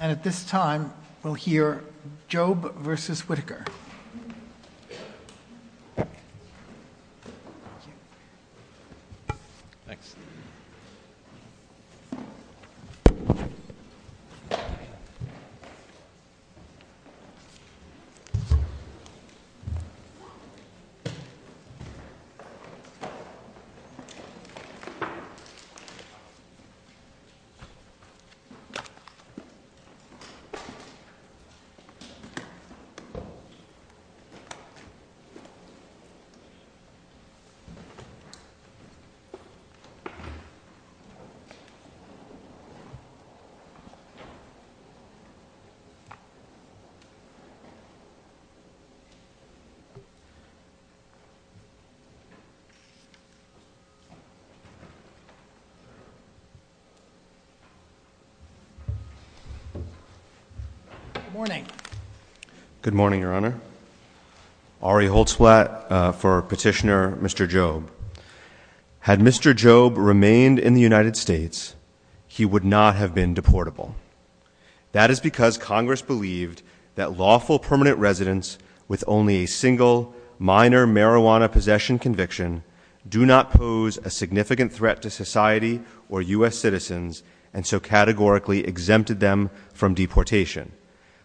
And at this time, we'll hear Jobe v. Whitaker. Thanks. Good morning. Good morning, Your Honor. Ari Holtzblatt for Petitioner Mr. Jobe. Had Mr. Jobe remained in the United States, he would not have been deportable. That is because Congress believed that lawful permanent residents with only a single minor marijuana possession conviction do not pose a significant threat to society or U.S. citizens and so categorically exempted them from deportation.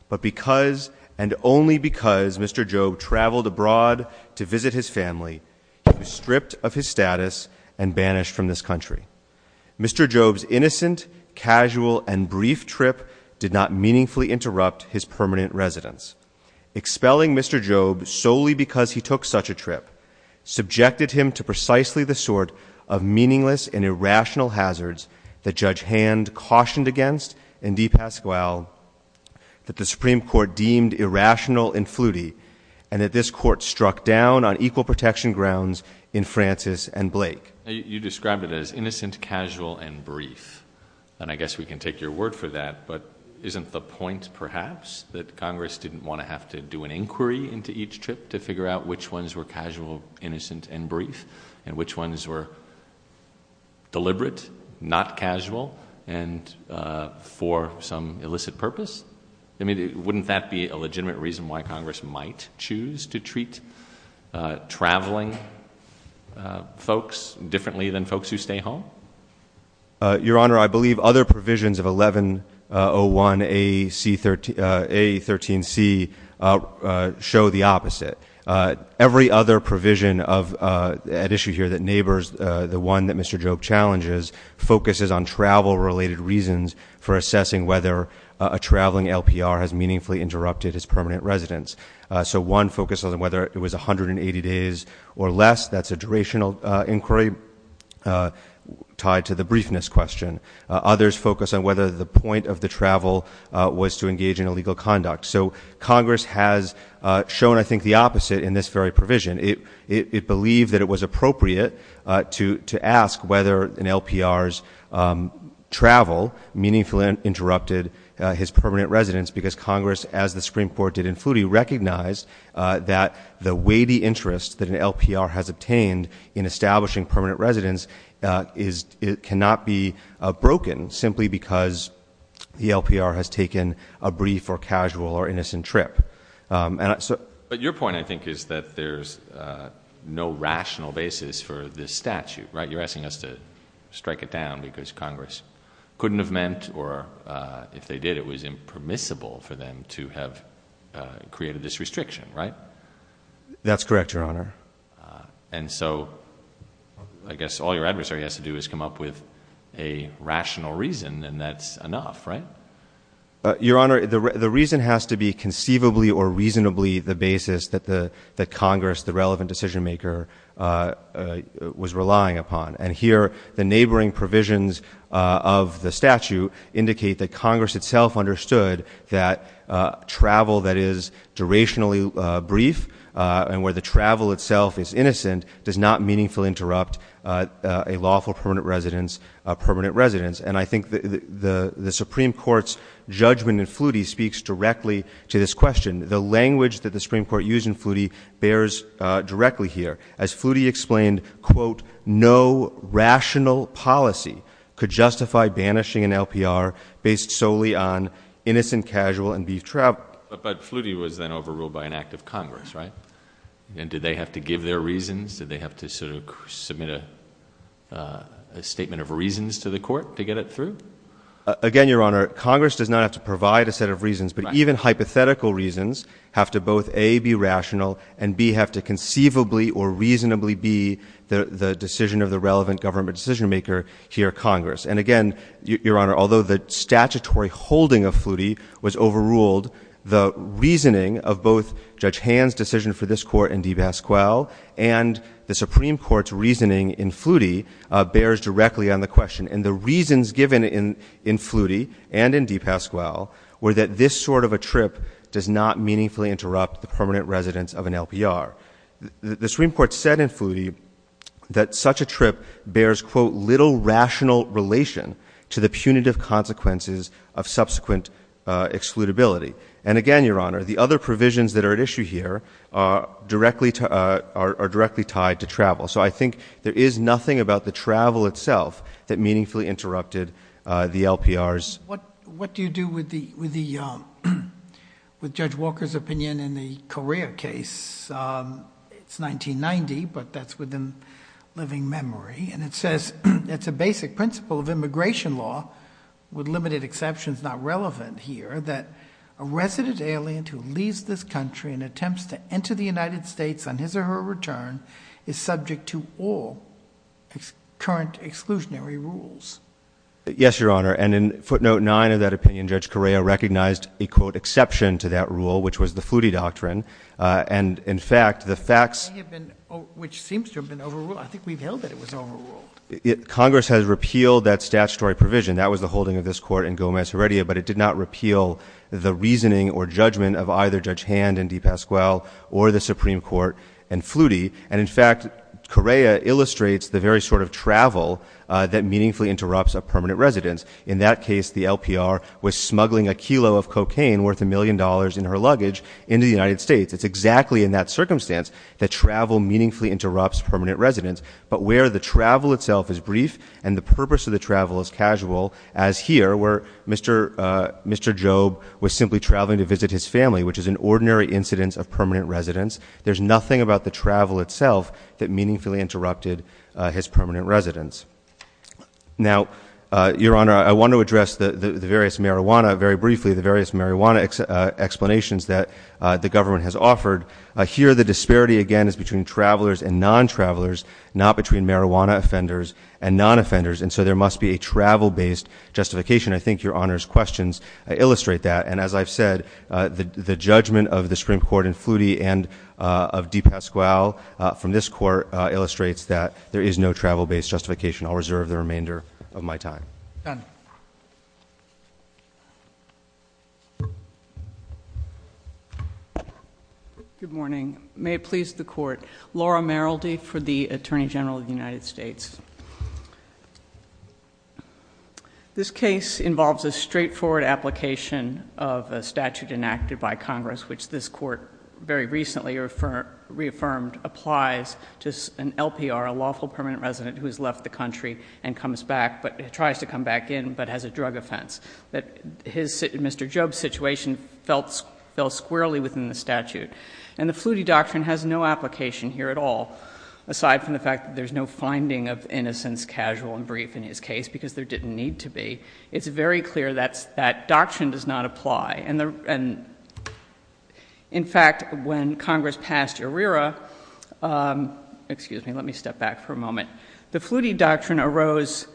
But because, and only because, Mr. Jobe traveled abroad to visit his family, he was stripped of his status and banished from this country. Mr. Jobe's innocent, casual, and brief trip did not meaningfully interrupt his permanent residence. Expelling Mr. Jobe solely because he took such a trip subjected him to precisely the sort of meaningless and irrational hazards that Judge Hand cautioned against in DePasquale, that the Supreme Court deemed irrational and fluty, and that this Court struck down on equal protection grounds in Francis and Blake. You described it as innocent, casual, and brief, and I guess we can take your word for that, but isn't the point perhaps that Congress didn't want to have to do an inquiry into each trip to figure out which ones were casual, innocent, and brief, and which ones were deliberate, not casual, and for some illicit purpose? I mean, wouldn't that be a legitimate reason why Congress might choose to treat traveling folks differently than folks who stay home? Your Honor, I believe other provisions of 1101A13C show the opposite. Every other provision at issue here that neighbors, the one that Mr. Jobe challenges, focuses on travel-related reasons for assessing whether a traveling LPR has meaningfully interrupted his permanent residence. So one focuses on whether it was 180 days or less. That's a durational inquiry tied to the briefness question. Others focus on whether the point of the travel was to engage in illegal conduct. So Congress has shown, I think, the opposite in this very provision. It believed that it was appropriate to ask whether an LPR's travel meaningfully interrupted his permanent residence, because Congress, as the Supreme Court did in Flutie, recognized that the weighty interest that an LPR has obtained in establishing permanent residence cannot be broken simply because the LPR has taken a brief or casual or innocent trip. But your point, I think, is that there's no rational basis for this statute, right? You're asking us to strike it down because Congress couldn't have meant or if they did, it was impermissible for them to have created this restriction, right? That's correct, Your Honor. And so I guess all your adversary has to do is come up with a rational reason, and that's enough, right? Your Honor, the reason has to be conceivably or reasonably the basis that Congress, the relevant decision-maker, was relying upon. And here, the neighboring provisions of the statute indicate that Congress itself understood that travel that is durationally brief and where the travel itself is innocent does not meaningfully interrupt a lawful permanent residence. And I think the Supreme Court's judgment in Flutie speaks directly to this question. The language that the Supreme Court used in Flutie bears directly here. As Flutie explained, quote, no rational policy could justify banishing an LPR based solely on innocent casual and brief travel. But Flutie was then overruled by an act of Congress, right? And did they have to give their reasons? Did they have to sort of submit a statement of reasons to the court to get it through? Again, Your Honor, Congress does not have to provide a set of reasons. But even hypothetical reasons have to both A, be rational, and B, have to conceivably or reasonably be the decision of the relevant government decision-maker here at Congress. And again, Your Honor, although the statutory holding of Flutie was overruled, the reasoning of both Judge Hand's decision for this court in DePasquale and the Supreme Court's reasoning in Flutie bears directly on the question. And the reasons given in Flutie and in DePasquale were that this sort of a trip does not meaningfully interrupt the permanent residence of an LPR. The Supreme Court said in Flutie that such a trip bears, quote, little rational relation to the punitive consequences of subsequent excludability. And again, Your Honor, the other provisions that are at issue here are directly tied to travel. So I think there is nothing about the travel itself that meaningfully interrupted the LPRs. What do you do with Judge Walker's opinion in the Korea case? It's 1990, but that's within living memory. And it says it's a basic principle of immigration law, with limited exceptions not relevant here, that a resident alien who leaves this country and attempts to enter the United States on his or her return is subject to all current exclusionary rules. Yes, Your Honor. And in footnote 9 of that opinion, Judge Correa recognized a, quote, exception to that rule, which was the Flutie doctrine. And, in fact, the facts— Which seems to have been overruled. I think we've held that it was overruled. Congress has repealed that statutory provision. That was the holding of this court in Gomez-Heredia. But it did not repeal the reasoning or judgment of either Judge Hand in DePasquale or the Supreme Court in Flutie. And, in fact, Correa illustrates the very sort of travel that meaningfully interrupts a permanent residence. In that case, the LPR was smuggling a kilo of cocaine worth a million dollars in her luggage into the United States. It's exactly in that circumstance that travel meaningfully interrupts permanent residence. But where the travel itself is brief and the purpose of the travel is casual, as here where Mr. Job was simply traveling to visit his family, which is an ordinary incidence of permanent residence, there's nothing about the travel itself that meaningfully interrupted his permanent residence. Now, Your Honor, I want to address the various marijuana— very briefly, the various marijuana explanations that the government has offered. Here, the disparity, again, is between travelers and non-travelers, not between marijuana offenders and non-offenders. And so there must be a travel-based justification. I think Your Honor's questions illustrate that. And, as I've said, the judgment of the Supreme Court in Flutie and of DePasquale from this court illustrates that there is no travel-based justification. I'll reserve the remainder of my time. Done. Good morning. May it please the Court. Laura Merrildy for the Attorney General of the United States. This case involves a straightforward application of a statute enacted by Congress, which this Court very recently reaffirmed applies to an LPR, a lawful permanent resident who has left the country and comes back, but tries to come back in, but has a drug offense. Mr. Job's situation fell squarely within the statute. And the Flutie doctrine has no application here at all, aside from the fact that there's no finding of innocence casual and brief in his case, because there didn't need to be. It's very clear that that doctrine does not apply. And, in fact, when Congress passed ERIRA, excuse me, let me step back for a moment, the Flutie doctrine arose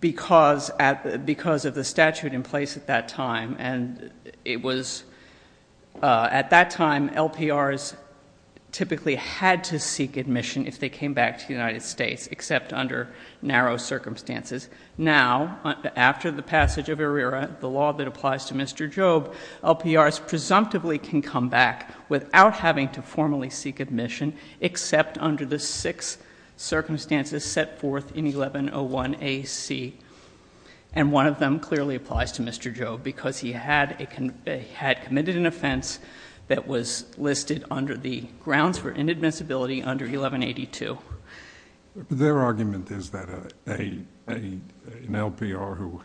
because of the statute in place at that time. And it was at that time LPRs typically had to seek admission if they came back to the United States, except under narrow circumstances. Now, after the passage of ERIRA, the law that applies to Mr. Job, LPRs presumptively can come back without having to formally seek admission, except under the six circumstances set forth in 1101 A.C. And one of them clearly applies to Mr. Job, because he had committed an offense that was listed under the grounds for inadmissibility under 1182. Their argument is that an LPR who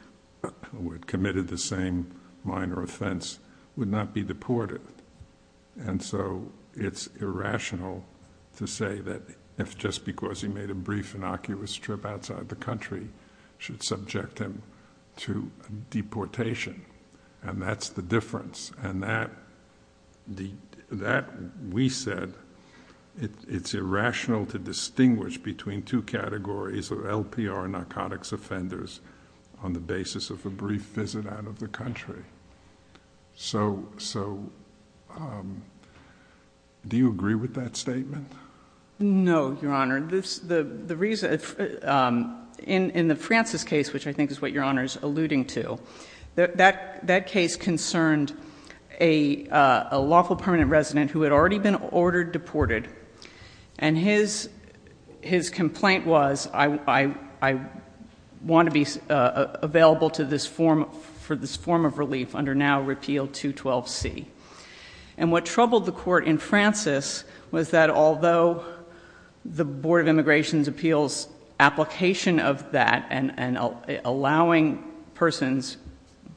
had committed the same minor offense would not be deported. And so it's irrational to say that just because he made a brief, innocuous trip outside the country should subject him to deportation. And that's the difference. And that, we said, it's irrational to distinguish between two categories of LPR narcotics offenders on the basis of a brief visit out of the country. So, do you agree with that statement? No, Your Honor. In the Francis case, which I think is what Your Honor is alluding to, that case concerned a lawful permanent resident who had already been ordered deported. And his complaint was, I want to be available for this form of relief under now repeal 212C. And what troubled the court in Francis was that although the Board of Immigration's Appeals application of that and allowing persons,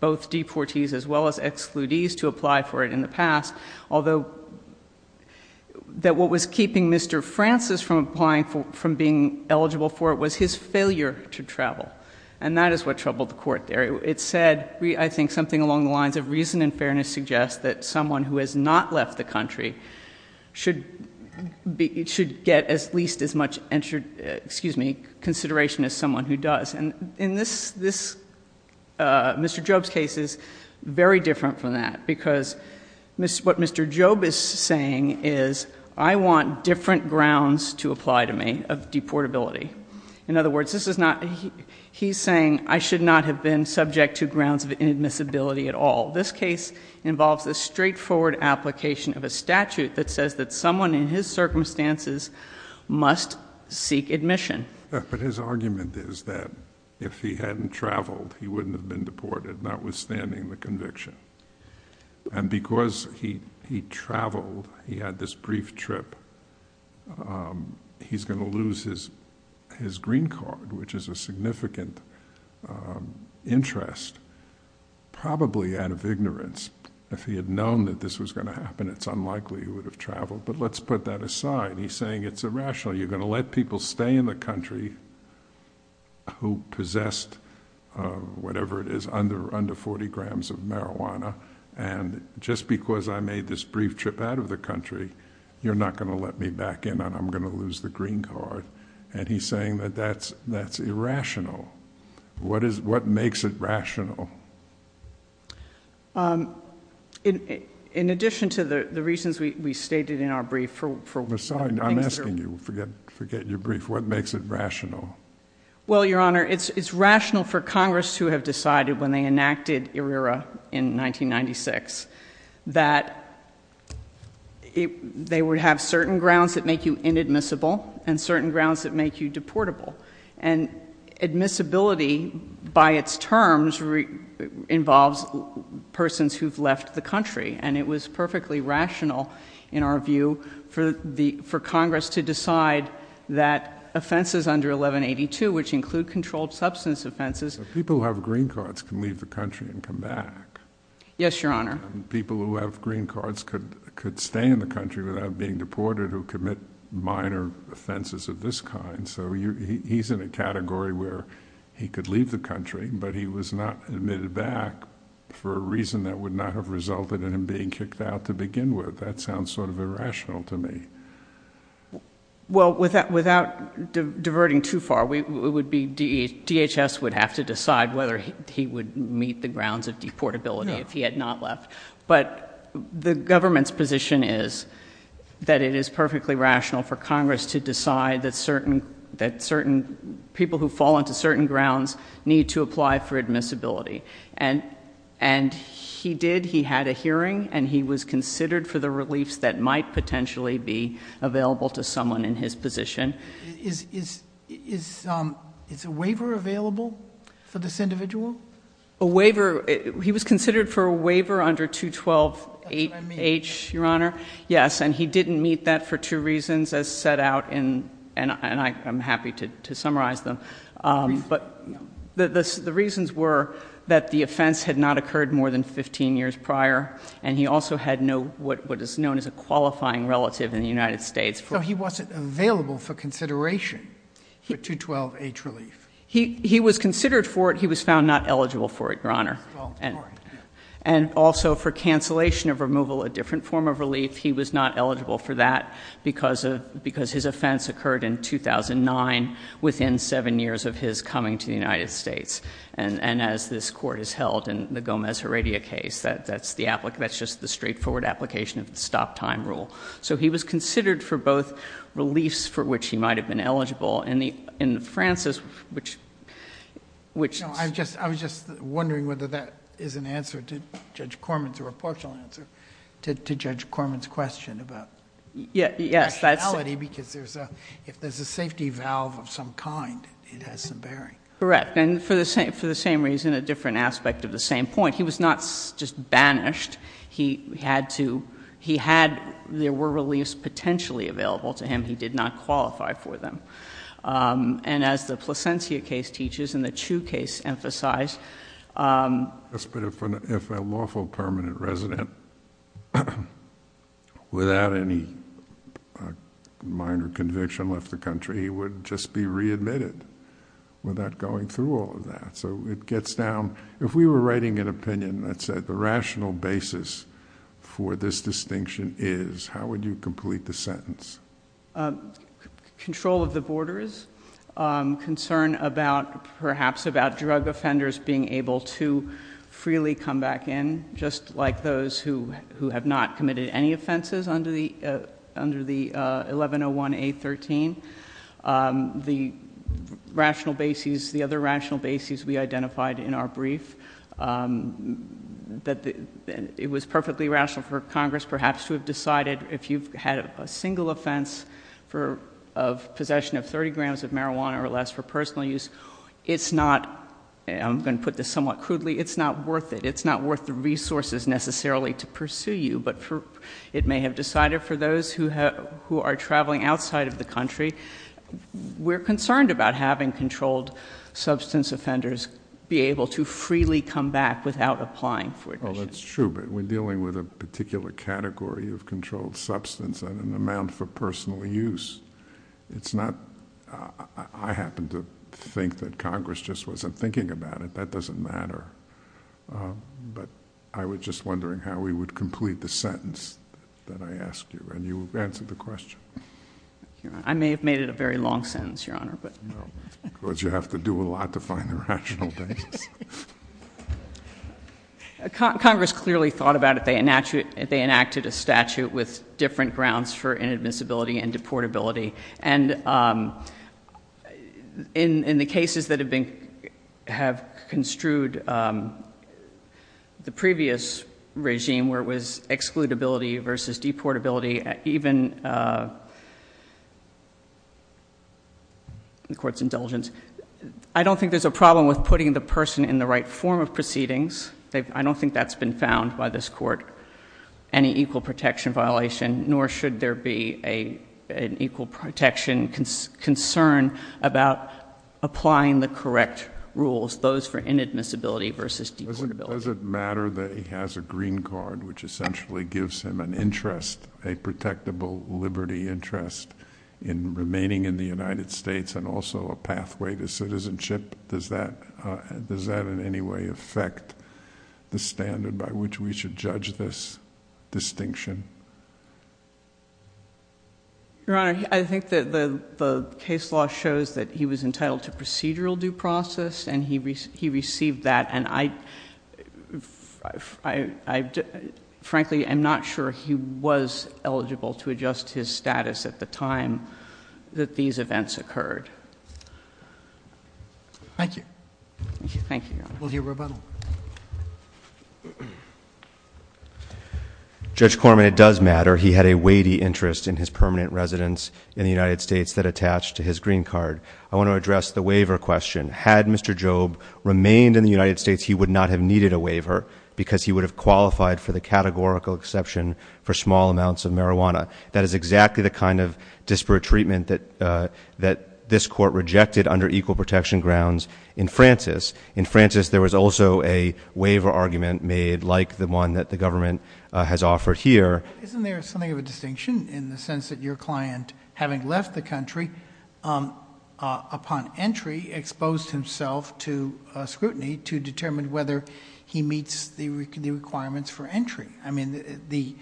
both deportees as well as excludees, to apply for it in the past, although that what was keeping Mr. Francis from being eligible for it was his failure to travel. And that is what troubled the court there. It said, I think, something along the lines of reason and fairness suggests that someone who has not left the country should get at least as much consideration as someone who does. And in this, Mr. Job's case is very different from that. Because what Mr. Job is saying is, I want different grounds to apply to me of deportability. In other words, this is not, he's saying I should not have been subject to grounds of inadmissibility at all. This case involves a straightforward application of a statute that says that someone in his circumstances must seek admission. But his argument is that if he hadn't traveled, he wouldn't have been deported, notwithstanding the conviction. And because he traveled, he had this brief trip, he's going to lose his green card, which is a significant interest, probably out of ignorance. If he had known that this was going to happen, it's unlikely he would have traveled. But let's put that aside. He's saying it's irrational. You're going to let people stay in the country who possessed whatever it is, under 40 grams of marijuana. And just because I made this brief trip out of the country, you're not going to let me back in and I'm going to lose the green card. And he's saying that that's irrational. What makes it rational? In addition to the reasons we stated in our brief for things that are— I'm sorry, I'm asking you. Forget your brief. What makes it rational? Well, Your Honor, it's rational for Congress to have decided when they enacted ERIRA in 1996, that they would have certain grounds that make you inadmissible and certain grounds that make you deportable. And admissibility, by its terms, involves persons who've left the country. And it was perfectly rational, in our view, for Congress to decide that offenses under 1182, which include controlled substance offenses— People who have green cards can leave the country and come back. Yes, Your Honor. People who have green cards could stay in the country without being deported, who commit minor offenses of this kind. So he's in a category where he could leave the country, but he was not admitted back for a reason that would not have resulted in him being kicked out to begin with. That sounds sort of irrational to me. Well, without diverting too far, DHS would have to decide whether he would meet the grounds of deportability if he had not left. But the government's position is that it is perfectly rational for Congress to decide that certain people who fall into certain grounds need to apply for admissibility. And he did. He had a hearing. And he was considered for the reliefs that might potentially be available to someone in his position. Is a waiver available for this individual? A waiver—he was considered for a waiver under 212H, Your Honor. Yes, and he didn't meet that for two reasons, as set out in—and I'm happy to summarize them. But the reasons were that the offense had not occurred more than 15 years prior, and he also had no—what is known as a qualifying relative in the United States. So he wasn't available for consideration for 212H relief. He was considered for it. He was found not eligible for it, Your Honor. And also for cancellation of removal, a different form of relief, he was not eligible for that because his offense occurred in 2009, within seven years of his coming to the United States. And as this Court has held in the Gomez-Heredia case, that's just the straightforward application of the stop-time rule. So he was considered for both reliefs for which he might have been eligible. And Francis, which— No, I was just wondering whether that is an answer to Judge Corman's or a proportional answer to Judge Corman's question about— Yes, that's— —the rationality because if there's a safety valve of some kind, it has some bearing. Correct, and for the same reason, a different aspect of the same point. He was not just banished. He had to—he had—there were reliefs potentially available to him. And he did not qualify for them. And as the Plasencia case teaches and the Chu case emphasized— Yes, but if a lawful permanent resident without any minor conviction left the country, he would just be readmitted without going through all of that. So it gets down—if we were writing an opinion that said the rational basis for this distinction is, how would you complete the sentence? Control of the borders. Concern about—perhaps about drug offenders being able to freely come back in, just like those who have not committed any offenses under the 1101A13. The rational basis—the other rational basis we identified in our brief, that it was perfectly rational for Congress perhaps to have decided if you've had a single offense of possession of 30 grams of marijuana or less for personal use, it's not—I'm going to put this somewhat crudely—it's not worth it. It's not worth the resources necessarily to pursue you, but it may have decided for those who are traveling outside of the country. We're concerned about having controlled substance offenders be able to freely come back without applying for admission. Oh, that's true, but we're dealing with a particular category of controlled substance and an amount for personal use. It's not—I happen to think that Congress just wasn't thinking about it. That doesn't matter. But I was just wondering how we would complete the sentence that I asked you, and you answered the question. I may have made it a very long sentence, Your Honor. Because you have to do a lot to find the rational basis. Congress clearly thought about it. They enacted a statute with different grounds for inadmissibility and deportability. And in the cases that have been—have construed the previous regime where it was excludability versus deportability, even—the Court's indulgence. I don't think there's a problem with putting the person in the right form of proceedings. I don't think that's been found by this Court, any equal protection violation, nor should there be an equal protection concern about applying the correct rules, those for inadmissibility versus deportability. Does it matter that he has a green card, which essentially gives him an interest, a protectable liberty interest in remaining in the United States and also a pathway to citizenship? Does that in any way affect the standard by which we should judge this distinction? Your Honor, I think that the case law shows that he was entitled to procedural due process, and he received that, and I—frankly, I'm not sure he was eligible to adjust his status at the time that these events occurred. Thank you. Thank you, Your Honor. We'll hear rebuttal. Judge Corman, it does matter he had a weighty interest in his permanent residence in the United States that attached to his green card. I want to address the waiver question. Had Mr. Job remained in the United States, he would not have needed a waiver because he would have qualified for the categorical exception for small amounts of marijuana. That is exactly the kind of disparate treatment that this Court rejected under equal protection grounds in Francis. In Francis, there was also a waiver argument made like the one that the government has offered here. Isn't there something of a distinction in the sense that your client, having left the country, upon entry exposed himself to scrutiny to determine whether he meets the requirements for entry? I mean, the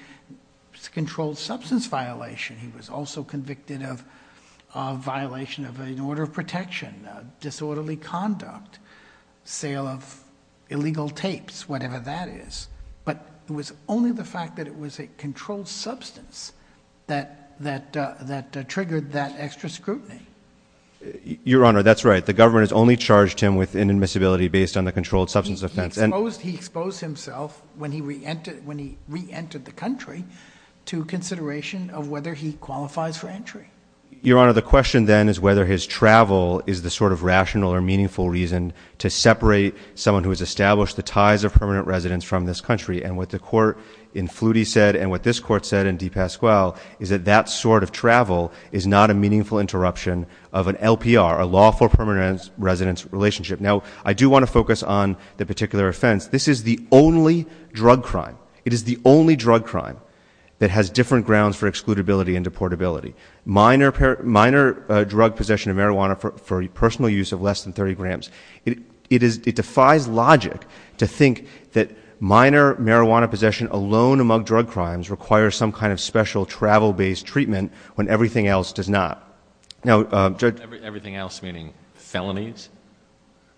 controlled substance violation, he was also convicted of a violation of an order of protection, disorderly conduct, sale of illegal tapes, whatever that is. But it was only the fact that it was a controlled substance that triggered that extra scrutiny. Your Honor, that's right. The government has only charged him with inadmissibility based on the controlled substance offense. He exposed himself when he reentered the country to consideration of whether he qualifies for entry. Your Honor, the question then is whether his travel is the sort of rational or meaningful reason to separate someone who has established the ties of permanent residence from this country. And what the court in Flutie said, and what this court said in DePasquale, is that that sort of travel is not a meaningful interruption of an LPR, a lawful permanent residence relationship. Now, I do want to focus on the particular offense. This is the only drug crime. It is the only drug crime that has different grounds for excludability and deportability. Minor drug possession of marijuana for personal use of less than 30 grams. It defies logic to think that minor marijuana possession alone among drug crimes requires some kind of special travel-based treatment when everything else does not. Now, Judge- Everything else meaning felonies?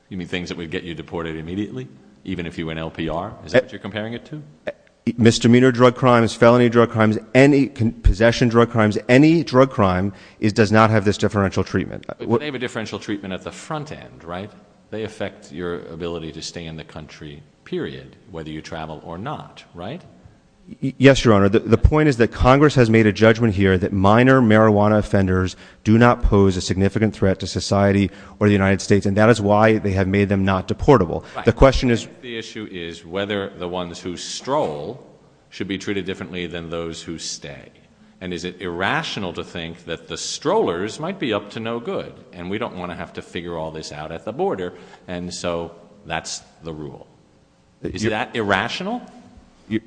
You mean things that would get you deported immediately, even if you went LPR? Is that what you're comparing it to? Misdemeanor drug crimes, felony drug crimes, possession drug crimes, any drug crime does not have this differential treatment. But they have a differential treatment at the front end, right? They affect your ability to stay in the country, period, whether you travel or not, right? Yes, Your Honor. The point is that Congress has made a judgment here that minor marijuana offenders do not pose a significant threat to society or the United States, and that is why they have made them not deportable. The question is- The issue is whether the ones who stroll should be treated differently than those who stay. And is it irrational to think that the strollers might be up to no good, and we don't want to have to figure all this out at the border, and so that's the rule. Is that irrational? Your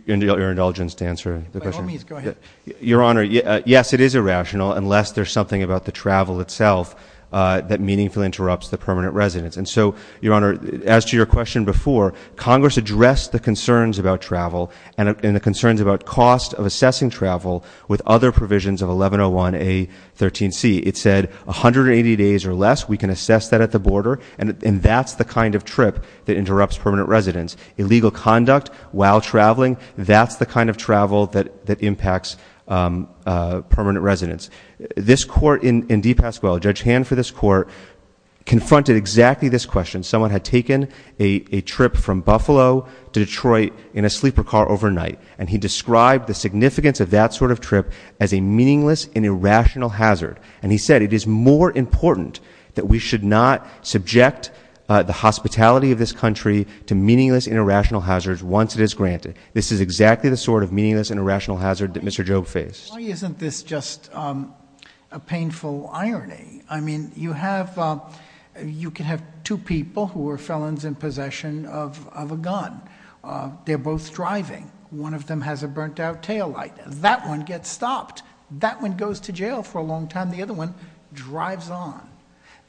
indulgence to answer the question. My homies, go ahead. Your Honor, yes, it is irrational unless there's something about the travel itself that meaningfully interrupts the permanent residence. And so, Your Honor, as to your question before, Congress addressed the concerns about travel and the concerns about cost of assessing travel with other provisions of 1101A13C. It said 180 days or less, we can assess that at the border, and that's the kind of trip that interrupts permanent residence. Illegal conduct while traveling, that's the kind of travel that impacts permanent residence. This court in DePasquale, Judge Hand for this court, confronted exactly this question. Someone had taken a trip from Buffalo to Detroit in a sleeper car overnight, and he described the significance of that sort of trip as a meaningless and irrational hazard. And he said it is more important that we should not subject the hospitality of this country to meaningless and irrational hazards once it is granted. This is exactly the sort of meaningless and irrational hazard that Mr. Jobe faced. Why isn't this just a painful irony? I mean, you can have two people who are felons in possession of a gun. They're both driving. One of them has a burnt-out taillight. That one gets stopped. That one goes to jail for a long time. The other one drives on.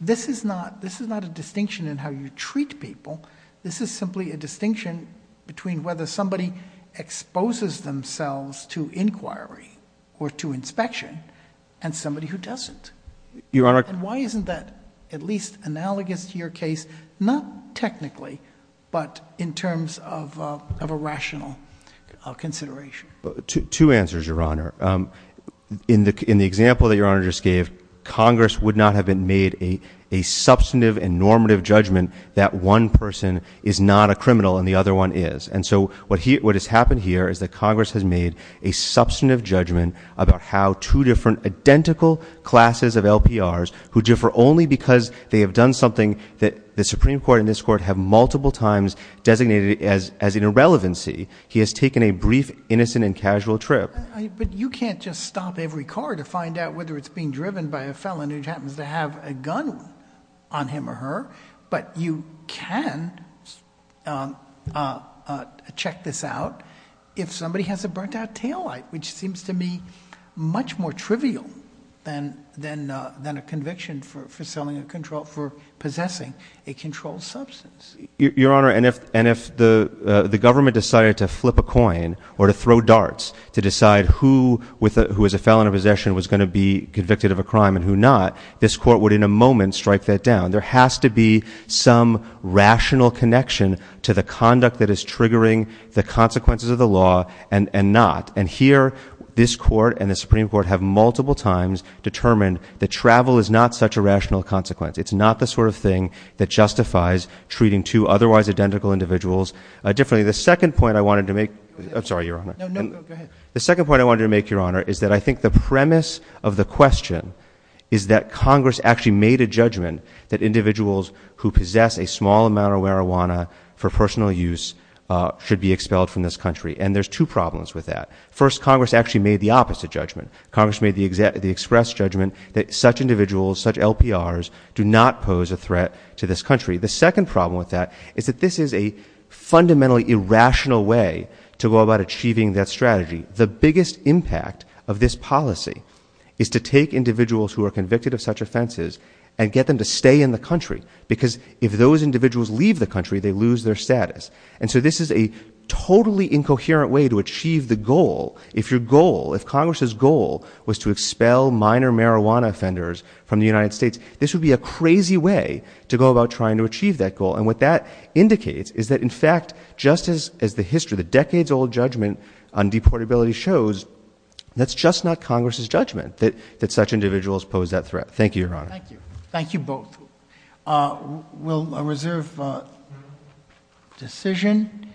This is not a distinction in how you treat people. This is simply a distinction between whether somebody exposes themselves to inquiry or to inspection and somebody who doesn't. And why isn't that at least analogous to your case, not technically, but in terms of a rational consideration? Two answers, Your Honor. In the example that Your Honor just gave, Congress would not have made a substantive and normative judgment that one person is not a criminal and the other one is. And so what has happened here is that Congress has made a substantive judgment about how two different identical classes of LPRs who differ only because they have done something that the Supreme Court and this Court have multiple times designated as an irrelevancy. He has taken a brief, innocent, and casual trip. But you can't just stop every car to find out whether it's being driven by a felon who happens to have a gun on him or her. But you can check this out if somebody has a burnt-out taillight, which seems to me much more trivial than a conviction for selling a control for possessing a controlled substance. Your Honor, and if the government decided to flip a coin or to throw darts to decide who as a felon of possession was going to be convicted of a crime and who not, this Court would in a moment strike that down. There has to be some rational connection to the conduct that is triggering the consequences of the law and not. And here this Court and the Supreme Court have multiple times determined that travel is not such a rational consequence. It's not the sort of thing that justifies treating two otherwise identical individuals differently. The second point I wanted to make, I'm sorry, Your Honor. No, no, go ahead. The second point I wanted to make, Your Honor, is that I think the premise of the question is that Congress actually made a judgment that individuals who possess a small amount of marijuana for personal use should be expelled from this country. And there's two problems with that. First, Congress actually made the opposite judgment. Congress made the express judgment that such individuals, such LPRs, do not pose a threat to this country. The second problem with that is that this is a fundamentally irrational way to go about achieving that strategy. The biggest impact of this policy is to take individuals who are convicted of such offenses and get them to stay in the country because if those individuals leave the country, they lose their status. And so this is a totally incoherent way to achieve the goal. If your goal, if Congress's goal was to expel minor marijuana offenders from the United States, this would be a crazy way to go about trying to achieve that goal. And what that indicates is that, in fact, just as the history, the decades-old judgment on deportability shows, that's just not Congress's judgment that such individuals pose that threat. Thank you, Your Honor. Thank you. Thank you both. We'll reserve decision.